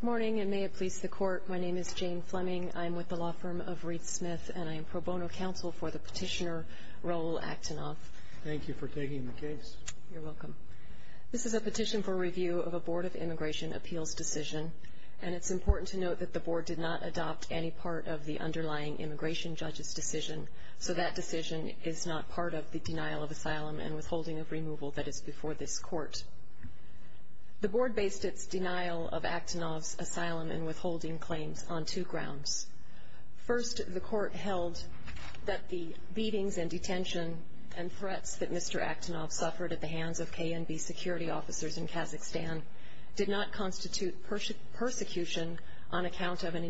Good morning, and may it please the Court, my name is Jane Fleming, I am with the law firm of Reed Smith, and I am pro bono counsel for the petitioner Raoul Akhtenoff. Thank you for taking the case. You're welcome. This is a petition for review of a Board of Immigration Appeals decision, and it's important to note that the Board did not adopt any part of the underlying immigration judge's decision, so that decision is not part of the denial of asylum and withholding of removal that is before this Court. The Board based its denial of Akhtenoff's asylum and withholding claims on two grounds. First, the Court held that the beatings and detention and threats that Mr. Akhtenoff suffered at the hands of KNB security officers in Kazakhstan did not constitute persecution on account of an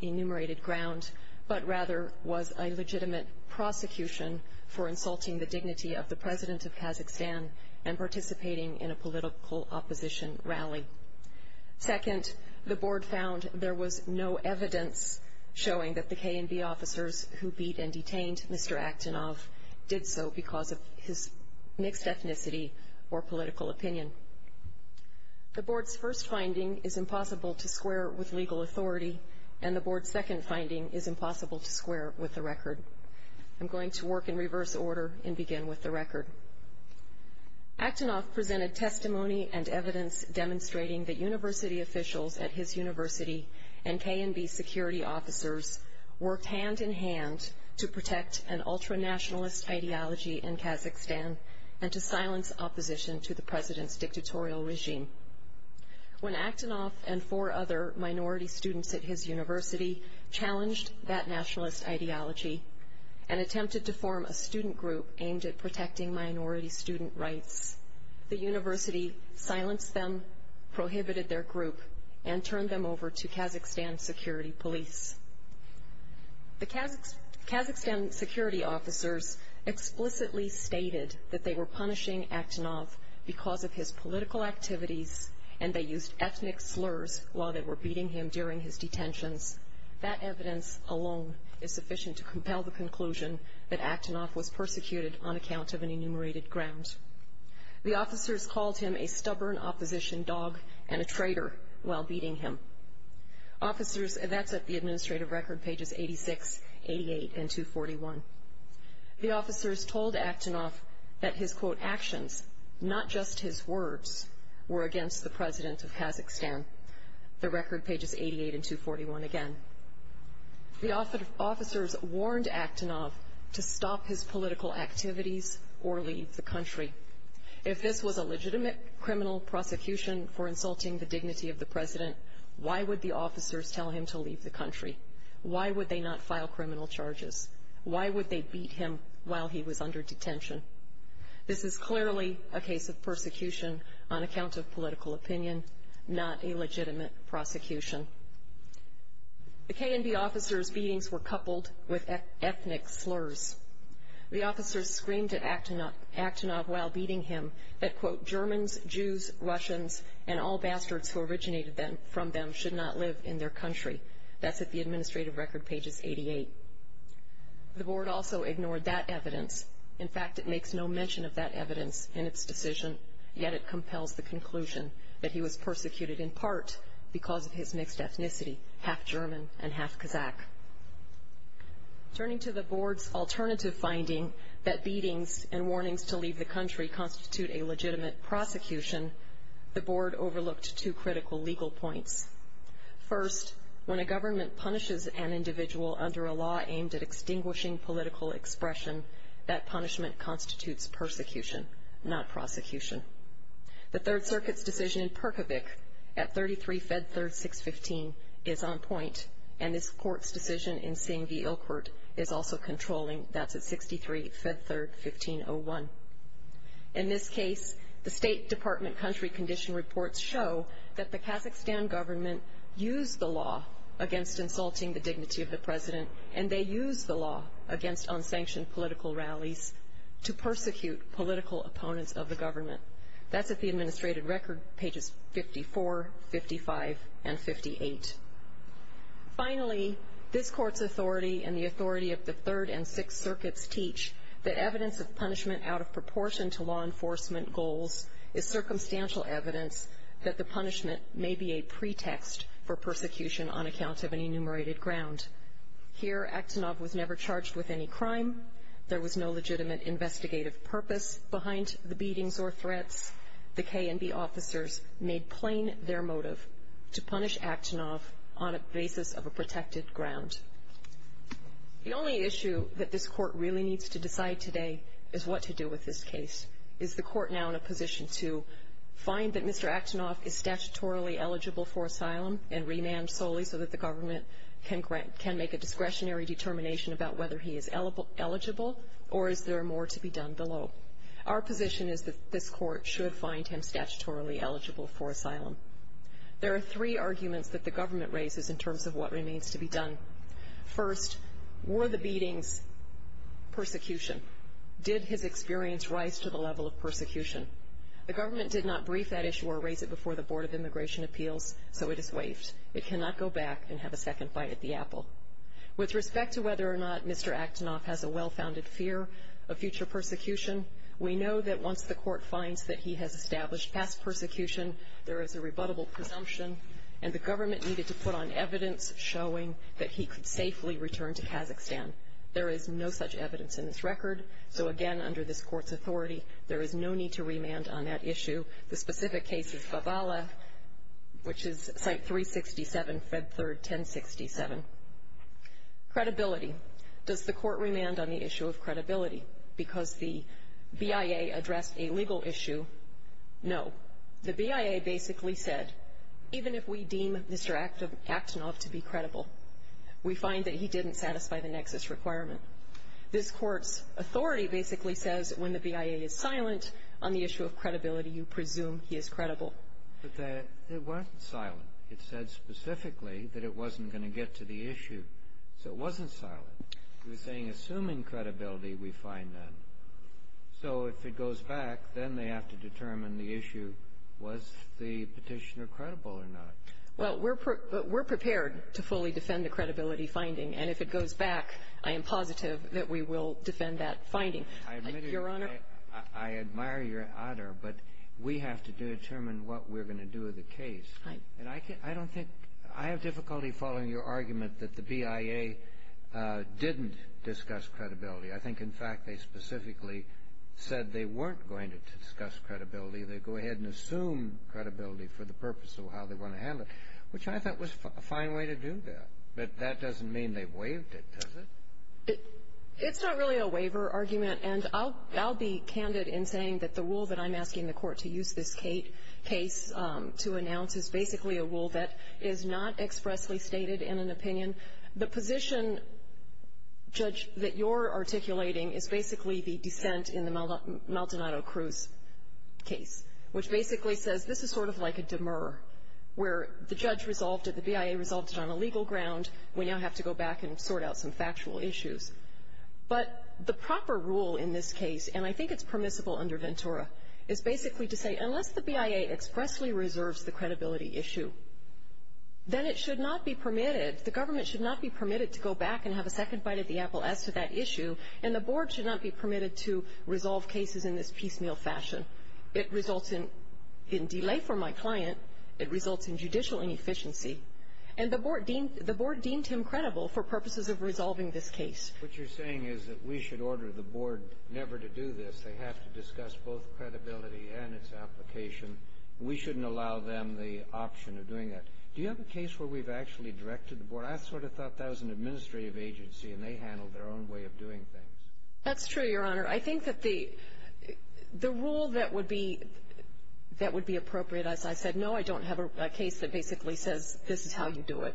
enumerated ground, but rather was a legitimate prosecution for insulting the dignity of the President of Kazakhstan and participating in a political opposition rally. Second, the Board found there was no evidence showing that the KNB officers who beat and detained Mr. Akhtenoff did so because of his mixed ethnicity or political opinion. The Board's first finding is impossible to square with legal authority, and the Board's second finding is impossible to square with the record. I'm going to work in reverse order and begin with the record. Akhtenoff presented testimony and evidence demonstrating that university officials at his university and KNB security officers worked hand in hand to protect an ultra-nationalist ideology in Kazakhstan and to silence opposition to the President's dictatorial regime. When Akhtenoff and four other minority students at his university challenged that nationalist ideology and attempted to form a student group aimed at protecting minority student rights, the university silenced them, prohibited their group, and turned them over to Kazakhstan's security police. The Kazakhstan security officers explicitly stated that they were punishing Akhtenoff because of his political activities and they used ethnic slurs while they were beating him during his detentions. That evidence alone is sufficient to compel the conclusion that Akhtenoff was persecuted on account of an enumerated ground. The officers called him a stubborn opposition dog and a traitor while beating him. Officers, and that's at the administrative record pages 86, 88, and 241. The officers told Akhtenoff that his, quote, actions, not just his words, were against the President of Kazakhstan. The record pages 88 and 241 again. The officers warned Akhtenoff to stop his political activities or leave the country. If this was a legitimate criminal prosecution for insulting the dignity of the President, why would the officers tell him to leave the country? Why would they not file criminal charges? Why would they beat him while he was under detention? This is clearly a case of persecution on account of political opinion, not a legitimate prosecution. The KNB officers' beatings were coupled with ethnic slurs. The officers screamed at Akhtenoff while beating him that, quote, Germans, Jews, Russians, and all bastards who originated from them should not live in their country. That's at the administrative record pages 88. The board also ignored that evidence. In fact, it makes no mention of that evidence in its decision, yet it compels the conclusion that he was persecuted in part because of his mixed ethnicity, half German and half Kazakh. Turning to the board's alternative finding that beatings and warnings to leave the country constitute a legitimate prosecution, the board overlooked two critical legal points. First, when a government punishes an individual under a law aimed at extinguishing political expression, that punishment constitutes persecution, not prosecution. The Third Circuit's decision in Perkovich at 33 Fed Third 615 is on point, and this court's decision in Singh v. Ilkert is also controlling. That's at 63 Fed Third 1501. In this case, the State Department country condition reports show that the Kazakhstan government used the law against insulting the dignity of the president, and they used the law against unsanctioned political rallies to persecute political opponents of the government. That's at the administrative record pages 54, 55, and 58. Finally, this court's authority and the authority of the Third and Sixth Circuits teach that evidence of punishment out of proportion to law enforcement goals is circumstantial evidence that the punishment may be a pretext for persecution on account of an enumerated ground. Here, Akhtenov was never charged with any crime. There was no legitimate investigative purpose behind the beatings or threats. The K&B officers made plain their motive to punish Akhtenov on a basis of a protected ground. The only issue that this court really needs to decide today is what to do with this case. Is the court now in a position to find that Mr. Akhtenov is statutorily eligible for asylum and remand solely so that the government can make a discretionary determination about whether he is eligible or is there more to be done below? Our position is that this court should find him statutorily eligible for asylum. There are three arguments that the government raises in terms of what remains to be done. First, were the beatings persecution? Did his experience rise to the level of persecution? The government did not brief that issue or raise it before the Board of Immigration Appeals, so it is waived. It cannot go back and have a second fight at the apple. With respect to whether or not Mr. Akhtenov has a well-founded fear of future persecution, we know that once the court finds that he has established past persecution, there is a rebuttable presumption and the government needed to put on evidence showing that he could safely return to Kazakhstan. There is no such evidence in this record. So, again, under this court's authority, there is no need to remand on that issue. The specific case is Bavala, which is Site 367, Fed Third 1067. Credibility. Does the court remand on the issue of credibility because the BIA addressed a legal issue? No. The BIA basically said, even if we deem Mr. Akhtenov to be credible, we find that he didn't satisfy the nexus requirement. This Court's authority basically says when the BIA is silent on the issue of credibility, you presume he is credible. But that wasn't silent. It said specifically that it wasn't going to get to the issue. So it wasn't silent. It was saying, assuming credibility, we find that. So if it goes back, then they have to determine the issue, was the Petitioner credible or not? Well, we're prepared to fully defend the credibility finding, and if it goes back, I am positive that we will defend that finding. Your Honor? I admire your honor, but we have to determine what we're going to do with the case. Right. And I don't think — I have difficulty following your argument that the BIA didn't discuss credibility. I think, in fact, they specifically said they weren't going to discuss credibility. They go ahead and assume credibility for the purpose of how they want to handle it, which I thought was a fine way to do that. But that doesn't mean they waived it, does it? It's not really a waiver argument, and I'll be candid in saying that the rule that I'm asking the Court to use this case to announce is basically a rule that is not expressly stated in an opinion. The position, Judge, that you're articulating is basically the dissent in the Maldonado-Cruz case, which basically says this is sort of like a demur, where the judge resolved it, the BIA resolved it on a legal ground. We now have to go back and sort out some factual issues. But the proper rule in this case, and I think it's permissible under Ventura, is basically to say, unless the BIA expressly reserves the credibility issue, then it should not be permitted — the government should not be permitted to go back and have a second bite at the apple as to that issue, and the Board should not be permitted to resolve cases in this piecemeal fashion. It results in delay for my client. It results in judicial inefficiency. And the Board deemed him credible for purposes of resolving this case. What you're saying is that we should order the Board never to do this. They have to discuss both credibility and its application. We shouldn't allow them the option of doing that. Do you have a case where we've actually directed the Board? I sort of thought that was an administrative agency, and they handled their own way of doing things. That's true, Your Honor. I think that the rule that would be appropriate, as I said, no, I don't have a case that basically says this is how you do it.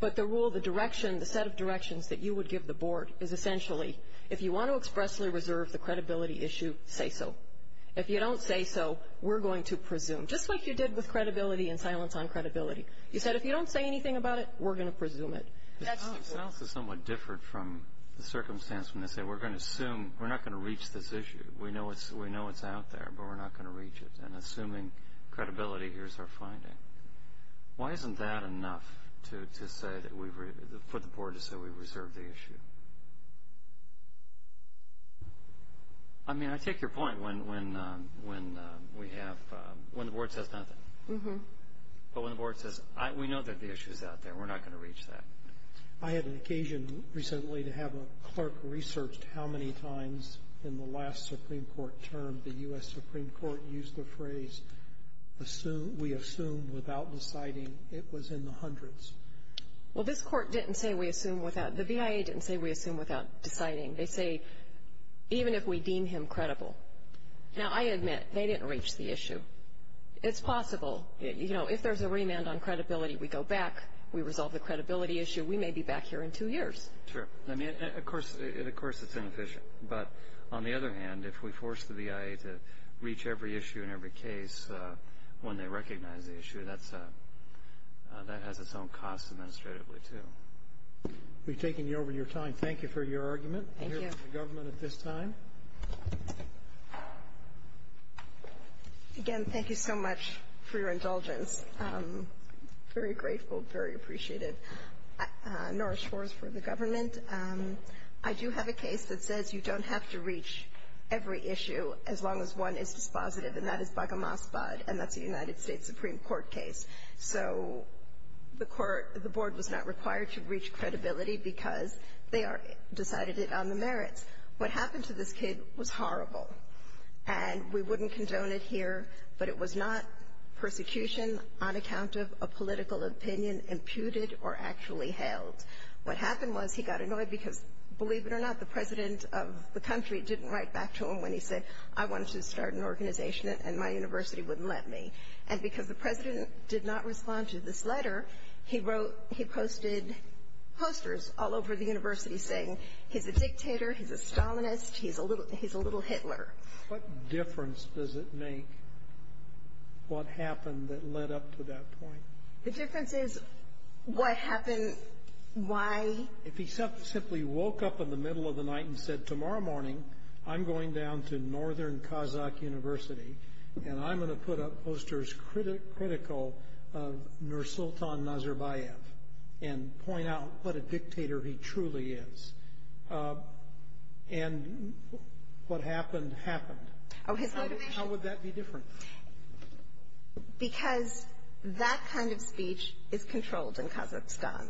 But the rule, the direction, the set of directions that you would give the Board is essentially, if you want to expressly reserve the credibility issue, say so. If you don't say so, we're going to presume, just like you did with credibility and silence on credibility. You said if you don't say anything about it, we're going to presume it. Silence is somewhat different from the circumstance when they say we're going to assume, we're not going to reach this issue. We know it's out there, but we're not going to reach it. And assuming credibility, here's our finding. Why isn't that enough for the Board to say we've reserved the issue? I mean, I take your point when the Board says nothing. Mm-hmm. But when the Board says we know that the issue is out there, we're not going to reach that. I had an occasion recently to have a clerk research how many times in the last Supreme Court term the U.S. Supreme Court used the phrase we assume without deciding. It was in the hundreds. Well, this Court didn't say we assume without. The V.I.A. didn't say we assume without deciding. They say even if we deem him credible. Now, I admit, they didn't reach the issue. It's possible. You know, if there's a remand on credibility, we go back, we resolve the credibility issue, we may be back here in two years. Sure. I mean, of course it's inefficient. But on the other hand, if we force the V.I.A. to reach every issue and every case when they recognize the issue, that has its own cost administratively, too. We've taken over your time. Thank you for your argument. Thank you. We'll hear from the government at this time. Again, thank you so much for your indulgence. I'm very grateful, very appreciative. Norah Schwartz for the government. I do have a case that says you don't have to reach every issue as long as one is dispositive, and that is Bagamasbad, and that's a United States Supreme Court case. So the Court, the Board was not required to reach credibility because they decided it on the merits. What happened to this kid was horrible, and we wouldn't condone it here, but it was not persecution on account of a political opinion imputed or actually held. What happened was he got annoyed because, believe it or not, the president of the country didn't write back to him when he said, I wanted to start an organization and my university wouldn't let me. And because the president did not respond to this letter, he wrote, he posted posters all over the university saying he's a dictator, he's a Stalinist, he's a little Hitler. What difference does it make what happened that led up to that point? The difference is what happened, why. If he simply woke up in the middle of the night and said, tomorrow morning I'm going down to Northern Kazakh University and I'm going to put up posters critical of Nursultan Nazarbayev and point out what a dictator he truly is, and what happened happened. How would that be different? Because that kind of speech is controlled in Kazakhstan.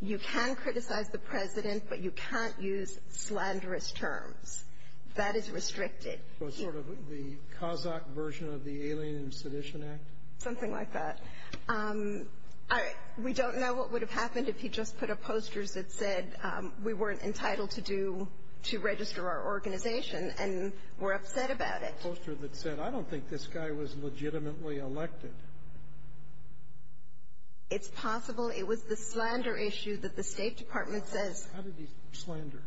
You can criticize the president, but you can't use slanderous terms. That is restricted. Sort of the Kazakh version of the Alien and Sedition Act? Something like that. We don't know what would have happened if he just put up posters that said we weren't entitled to register our organization and were upset about it. A poster that said, I don't think this guy was legitimately elected. It's possible. It was the slander issue that the State Department says. How did he slander?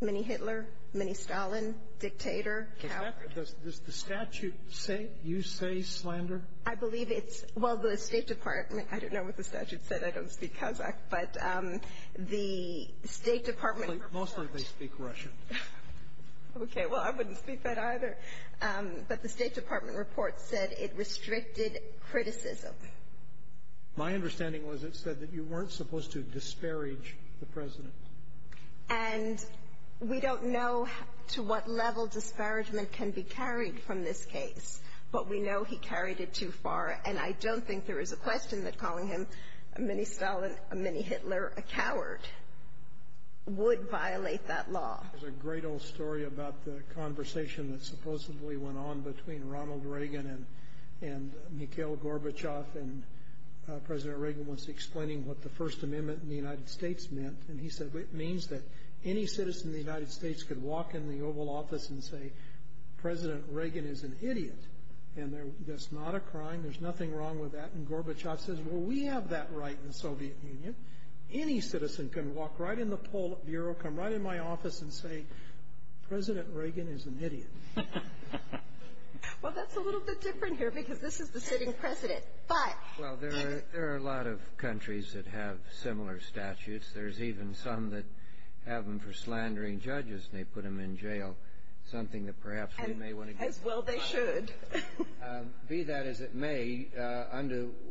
Mini-Hitler, mini-Stalin, dictator, coward. Does the statute say you say slander? I believe it's – well, the State Department – I don't know what the statute said, I don't speak Kazakh, but the State Department – Mostly they speak Russian. Okay, well, I wouldn't speak that either. But the State Department report said it restricted criticism. My understanding was it said that you weren't supposed to disparage the president. And we don't know to what level disparagement can be carried from this case, but we know he carried it too far, and I don't think there is a question that calling him a mini-Stalin, a mini-Hitler, a coward, would violate that law. There's a great old story about the conversation that supposedly went on between Ronald Reagan and Mikhail Gorbachev, and President Reagan was explaining what the First Amendment in the United States meant, and he said it means that any citizen in the United States could walk in the Oval Office and say, President Reagan is an idiot. And that's not a crime, there's nothing wrong with that. And Gorbachev says, well, we have that right in the Soviet Union. Any citizen can walk right in the Politburo, come right in my office, and say, President Reagan is an idiot. Well, that's a little bit different here because this is the sitting president. Well, there are a lot of countries that have similar statutes. There's even some that have them for slandering judges and they put them in jail, something that perhaps we may want to get to. As well they should. Be that as it may,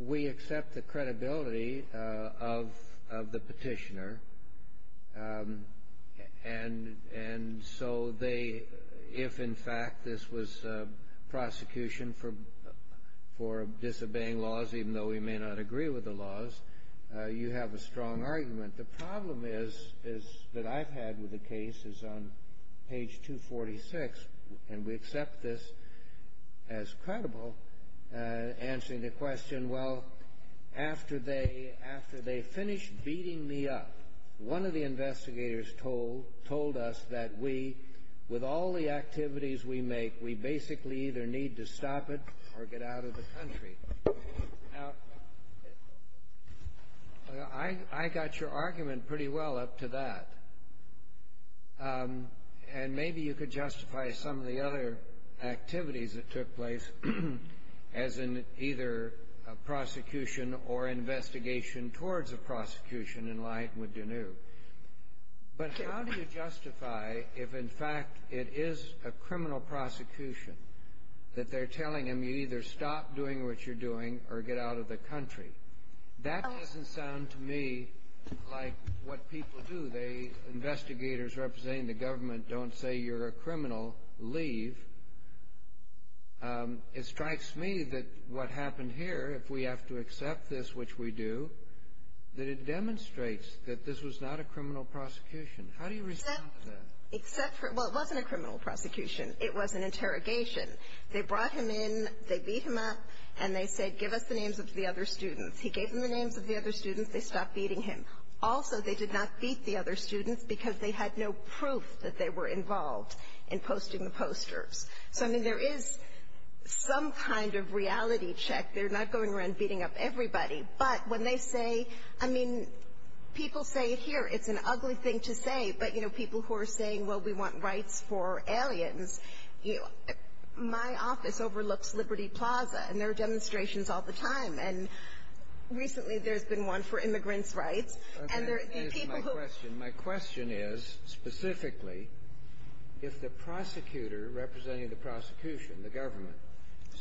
we accept the credibility of the petitioner, and so if in fact this was prosecution for disobeying laws, even though we may not agree with the laws, you have a strong argument. The problem that I've had with the case is on page 246, and we accept this as credible, answering the question, well, after they finished beating me up, one of the investigators told us that we, with all the activities we make, we basically either need to stop it or get out of the country. Now, I got your argument pretty well up to that, and maybe you could justify some of the other activities that took place, as in either a prosecution or investigation towards a prosecution in line with Deneuve. But how do you justify if in fact it is a criminal prosecution, that they're telling them you either stop doing what you're doing or get out of the country? That doesn't sound to me like what people do. The investigators representing the government don't say you're a criminal. Leave. It strikes me that what happened here, if we have to accept this, which we do, that it demonstrates that this was not a criminal prosecution. How do you respond to that? Except for, well, it wasn't a criminal prosecution. It was an interrogation. They brought him in, they beat him up, and they said, give us the names of the other students. He gave them the names of the other students. They stopped beating him. Also, they did not beat the other students because they had no proof that they were involved in posting the posters. So, I mean, there is some kind of reality check. They're not going around beating up everybody. But when they say, I mean, people say it here. It's an ugly thing to say. But, you know, people who are saying, well, we want rights for aliens, my office overlooks Liberty Plaza, and there are demonstrations all the time. And recently there's been one for immigrants' rights. And there are people who — Let me answer my question. My question is, specifically, if the prosecutor representing the prosecution, the government,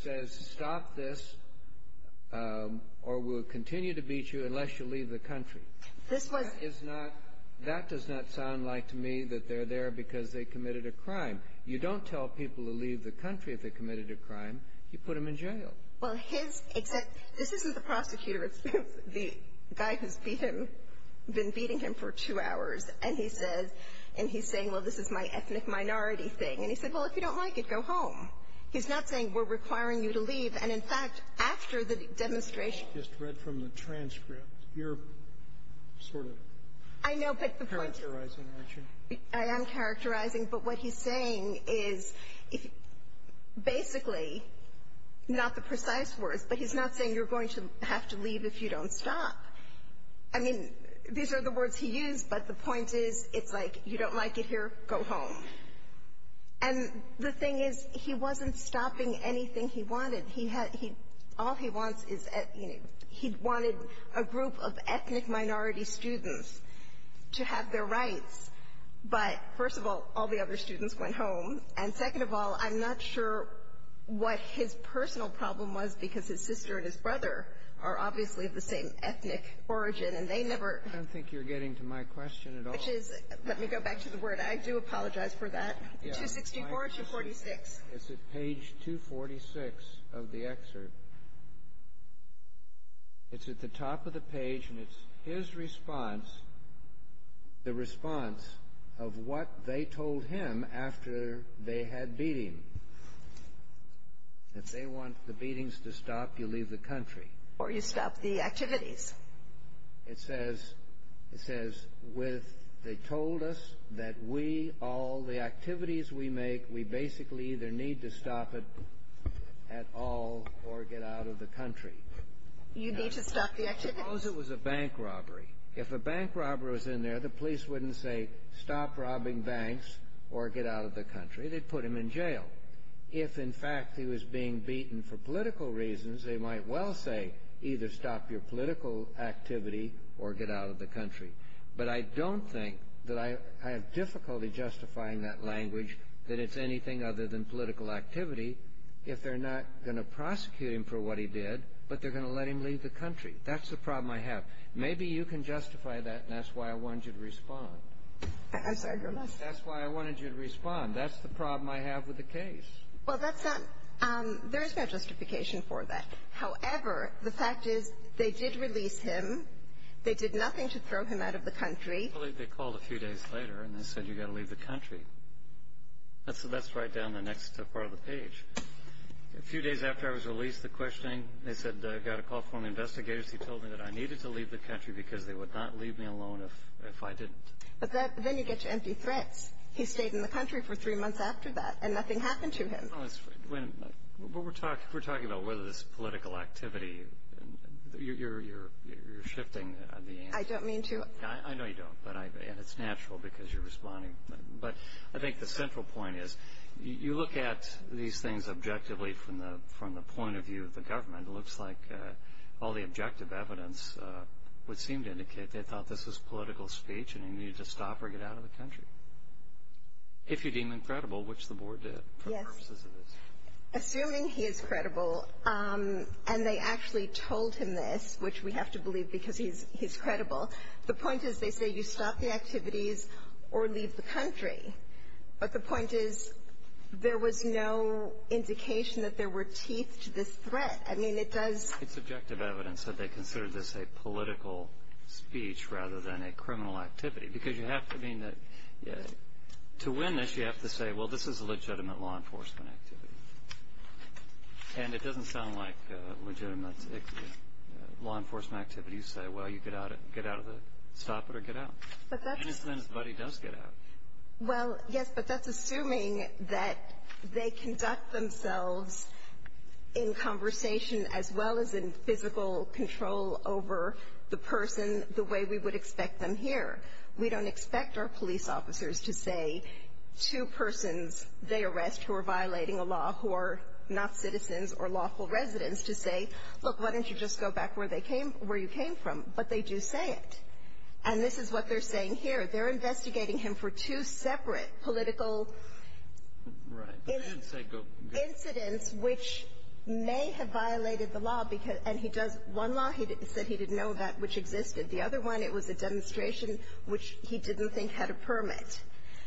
says stop this or we'll continue to beat you unless you leave the country. This was — That is not — that does not sound like to me that they're there because they committed a crime. You don't tell people to leave the country if they committed a crime. You put them in jail. Well, his — this isn't the prosecutor. It's the guy who's been beating him for two hours. And he says — and he's saying, well, this is my ethnic minority thing. And he said, well, if you don't like it, go home. He's not saying we're requiring you to leave. And, in fact, after the demonstration — I just read from the transcript. You're sort of characterizing, aren't you? I am characterizing. But what he's saying is, basically, not the precise words, but he's not saying you're going to have to leave if you don't stop. I mean, these are the words he used, but the point is, it's like, you don't like it here, go home. And the thing is, he wasn't stopping anything he wanted. All he wants is — he wanted a group of ethnic minority students to have their rights. But, first of all, all the other students went home. And, second of all, I'm not sure what his personal problem was, because his sister and his brother are obviously of the same ethnic origin, and they never — I don't think you're getting to my question at all. Which is — let me go back to the word. I do apologize for that. 264 or 246? It's at page 246 of the excerpt. It's at the top of the page, and it's his response. The response of what they told him after they had beating. If they want the beatings to stop, you leave the country. Or you stop the activities. It says, with — they told us that we, all the activities we make, we basically either need to stop it at all or get out of the country. You need to stop the activities? Suppose it was a bank robbery. If a bank robber was in there, the police wouldn't say, stop robbing banks or get out of the country. They'd put him in jail. If, in fact, he was being beaten for political reasons, they might well say either stop your political activity or get out of the country. But I don't think that I have difficulty justifying that language, that it's anything other than political activity, if they're not going to prosecute him for what he did, but they're going to let him leave the country. That's the problem I have. Maybe you can justify that, and that's why I wanted you to respond. I'm sorry, Your Honor. That's why I wanted you to respond. That's the problem I have with the case. Well, that's not — there is no justification for that. However, the fact is they did release him. They did nothing to throw him out of the country. I believe they called a few days later and they said, you've got to leave the country. That's right down the next part of the page. A few days after I was released, the questioning, they said, I got a call from the investigators who told me that I needed to leave the country because they would not leave me alone if I didn't. But then you get to empty threats. He stayed in the country for three months after that, and nothing happened to him. Well, we're talking about whether this political activity, you're shifting. I don't mean to. I know you don't, and it's natural because you're responding. But I think the central point is you look at these things objectively from the point of view of the government. It looks like all the objective evidence would seem to indicate they thought this was political speech and he needed to stop or get out of the country, if you deem him credible, which the board did. Yes. Assuming he is credible. And they actually told him this, which we have to believe because he's credible. The point is they say you stop the activities or leave the country. But the point is there was no indication that there were teeth to this threat. I mean, it does. It's objective evidence that they considered this a political speech rather than a criminal activity because you have to mean that to win this you have to say, well, this is a legitimate law enforcement activity. And it doesn't sound like legitimate law enforcement activity. You say, well, you get out of it, stop it, or get out. And it's then somebody does get out. Well, yes, but that's assuming that they conduct themselves in conversation as well as in physical control over the person the way we would expect them here. We don't expect our police officers to say to persons they arrest who are violating a law who are not citizens or lawful residents to say, look, why don't you just go back where you came from. But they do say it. And this is what they're saying here. They're investigating him for two separate political incidents which may have violated the law. And he does one law. He said he didn't know that which existed. The other one, it was a demonstration which he didn't think had a permit.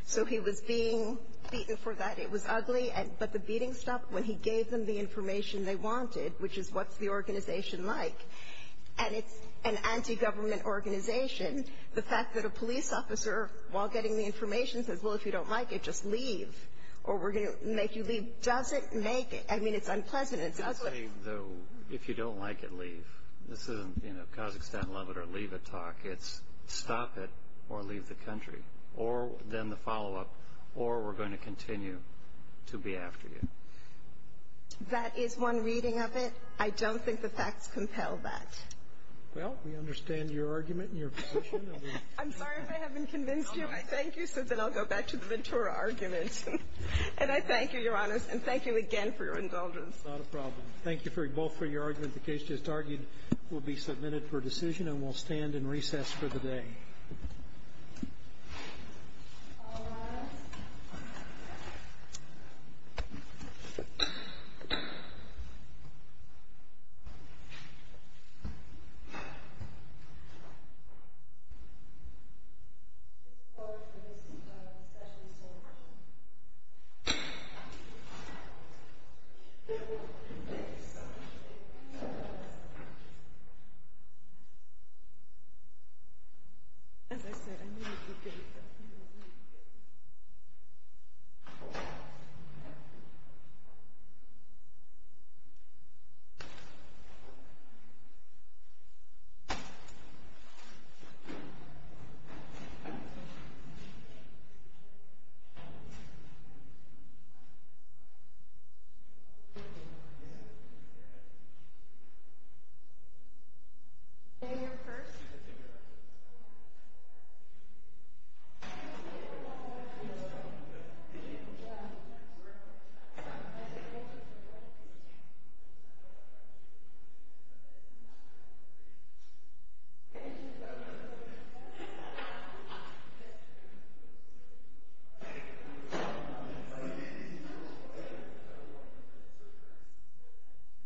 So he was being beaten for that. It was ugly. But the beating stopped when he gave them the information they wanted, which is what's the organization like. And it's an anti-government organization. The fact that a police officer, while getting the information, says, well, if you don't like it, just leave, or we're going to make you leave, doesn't make it. I mean, it's unpleasant. It's ugly. If you don't like it, leave. This isn't, you know, Kazakhstan, love it or leave it talk. It's stop it or leave the country, or then the follow-up, or we're going to continue to be after you. That is one reading of it. I don't think the facts compel that. Well, we understand your argument and your position. I'm sorry if I haven't convinced you. I thank you, so then I'll go back to the Ventura argument. And I thank you, Your Honors, and thank you again for your indulgence. Not a problem. Thank you both for your argument. The case just argued will be submitted for decision, and we'll stand and recess for the day. All rise. As I said, I knew you would get it, though. I knew you would get it. I knew you would get it. May I go first?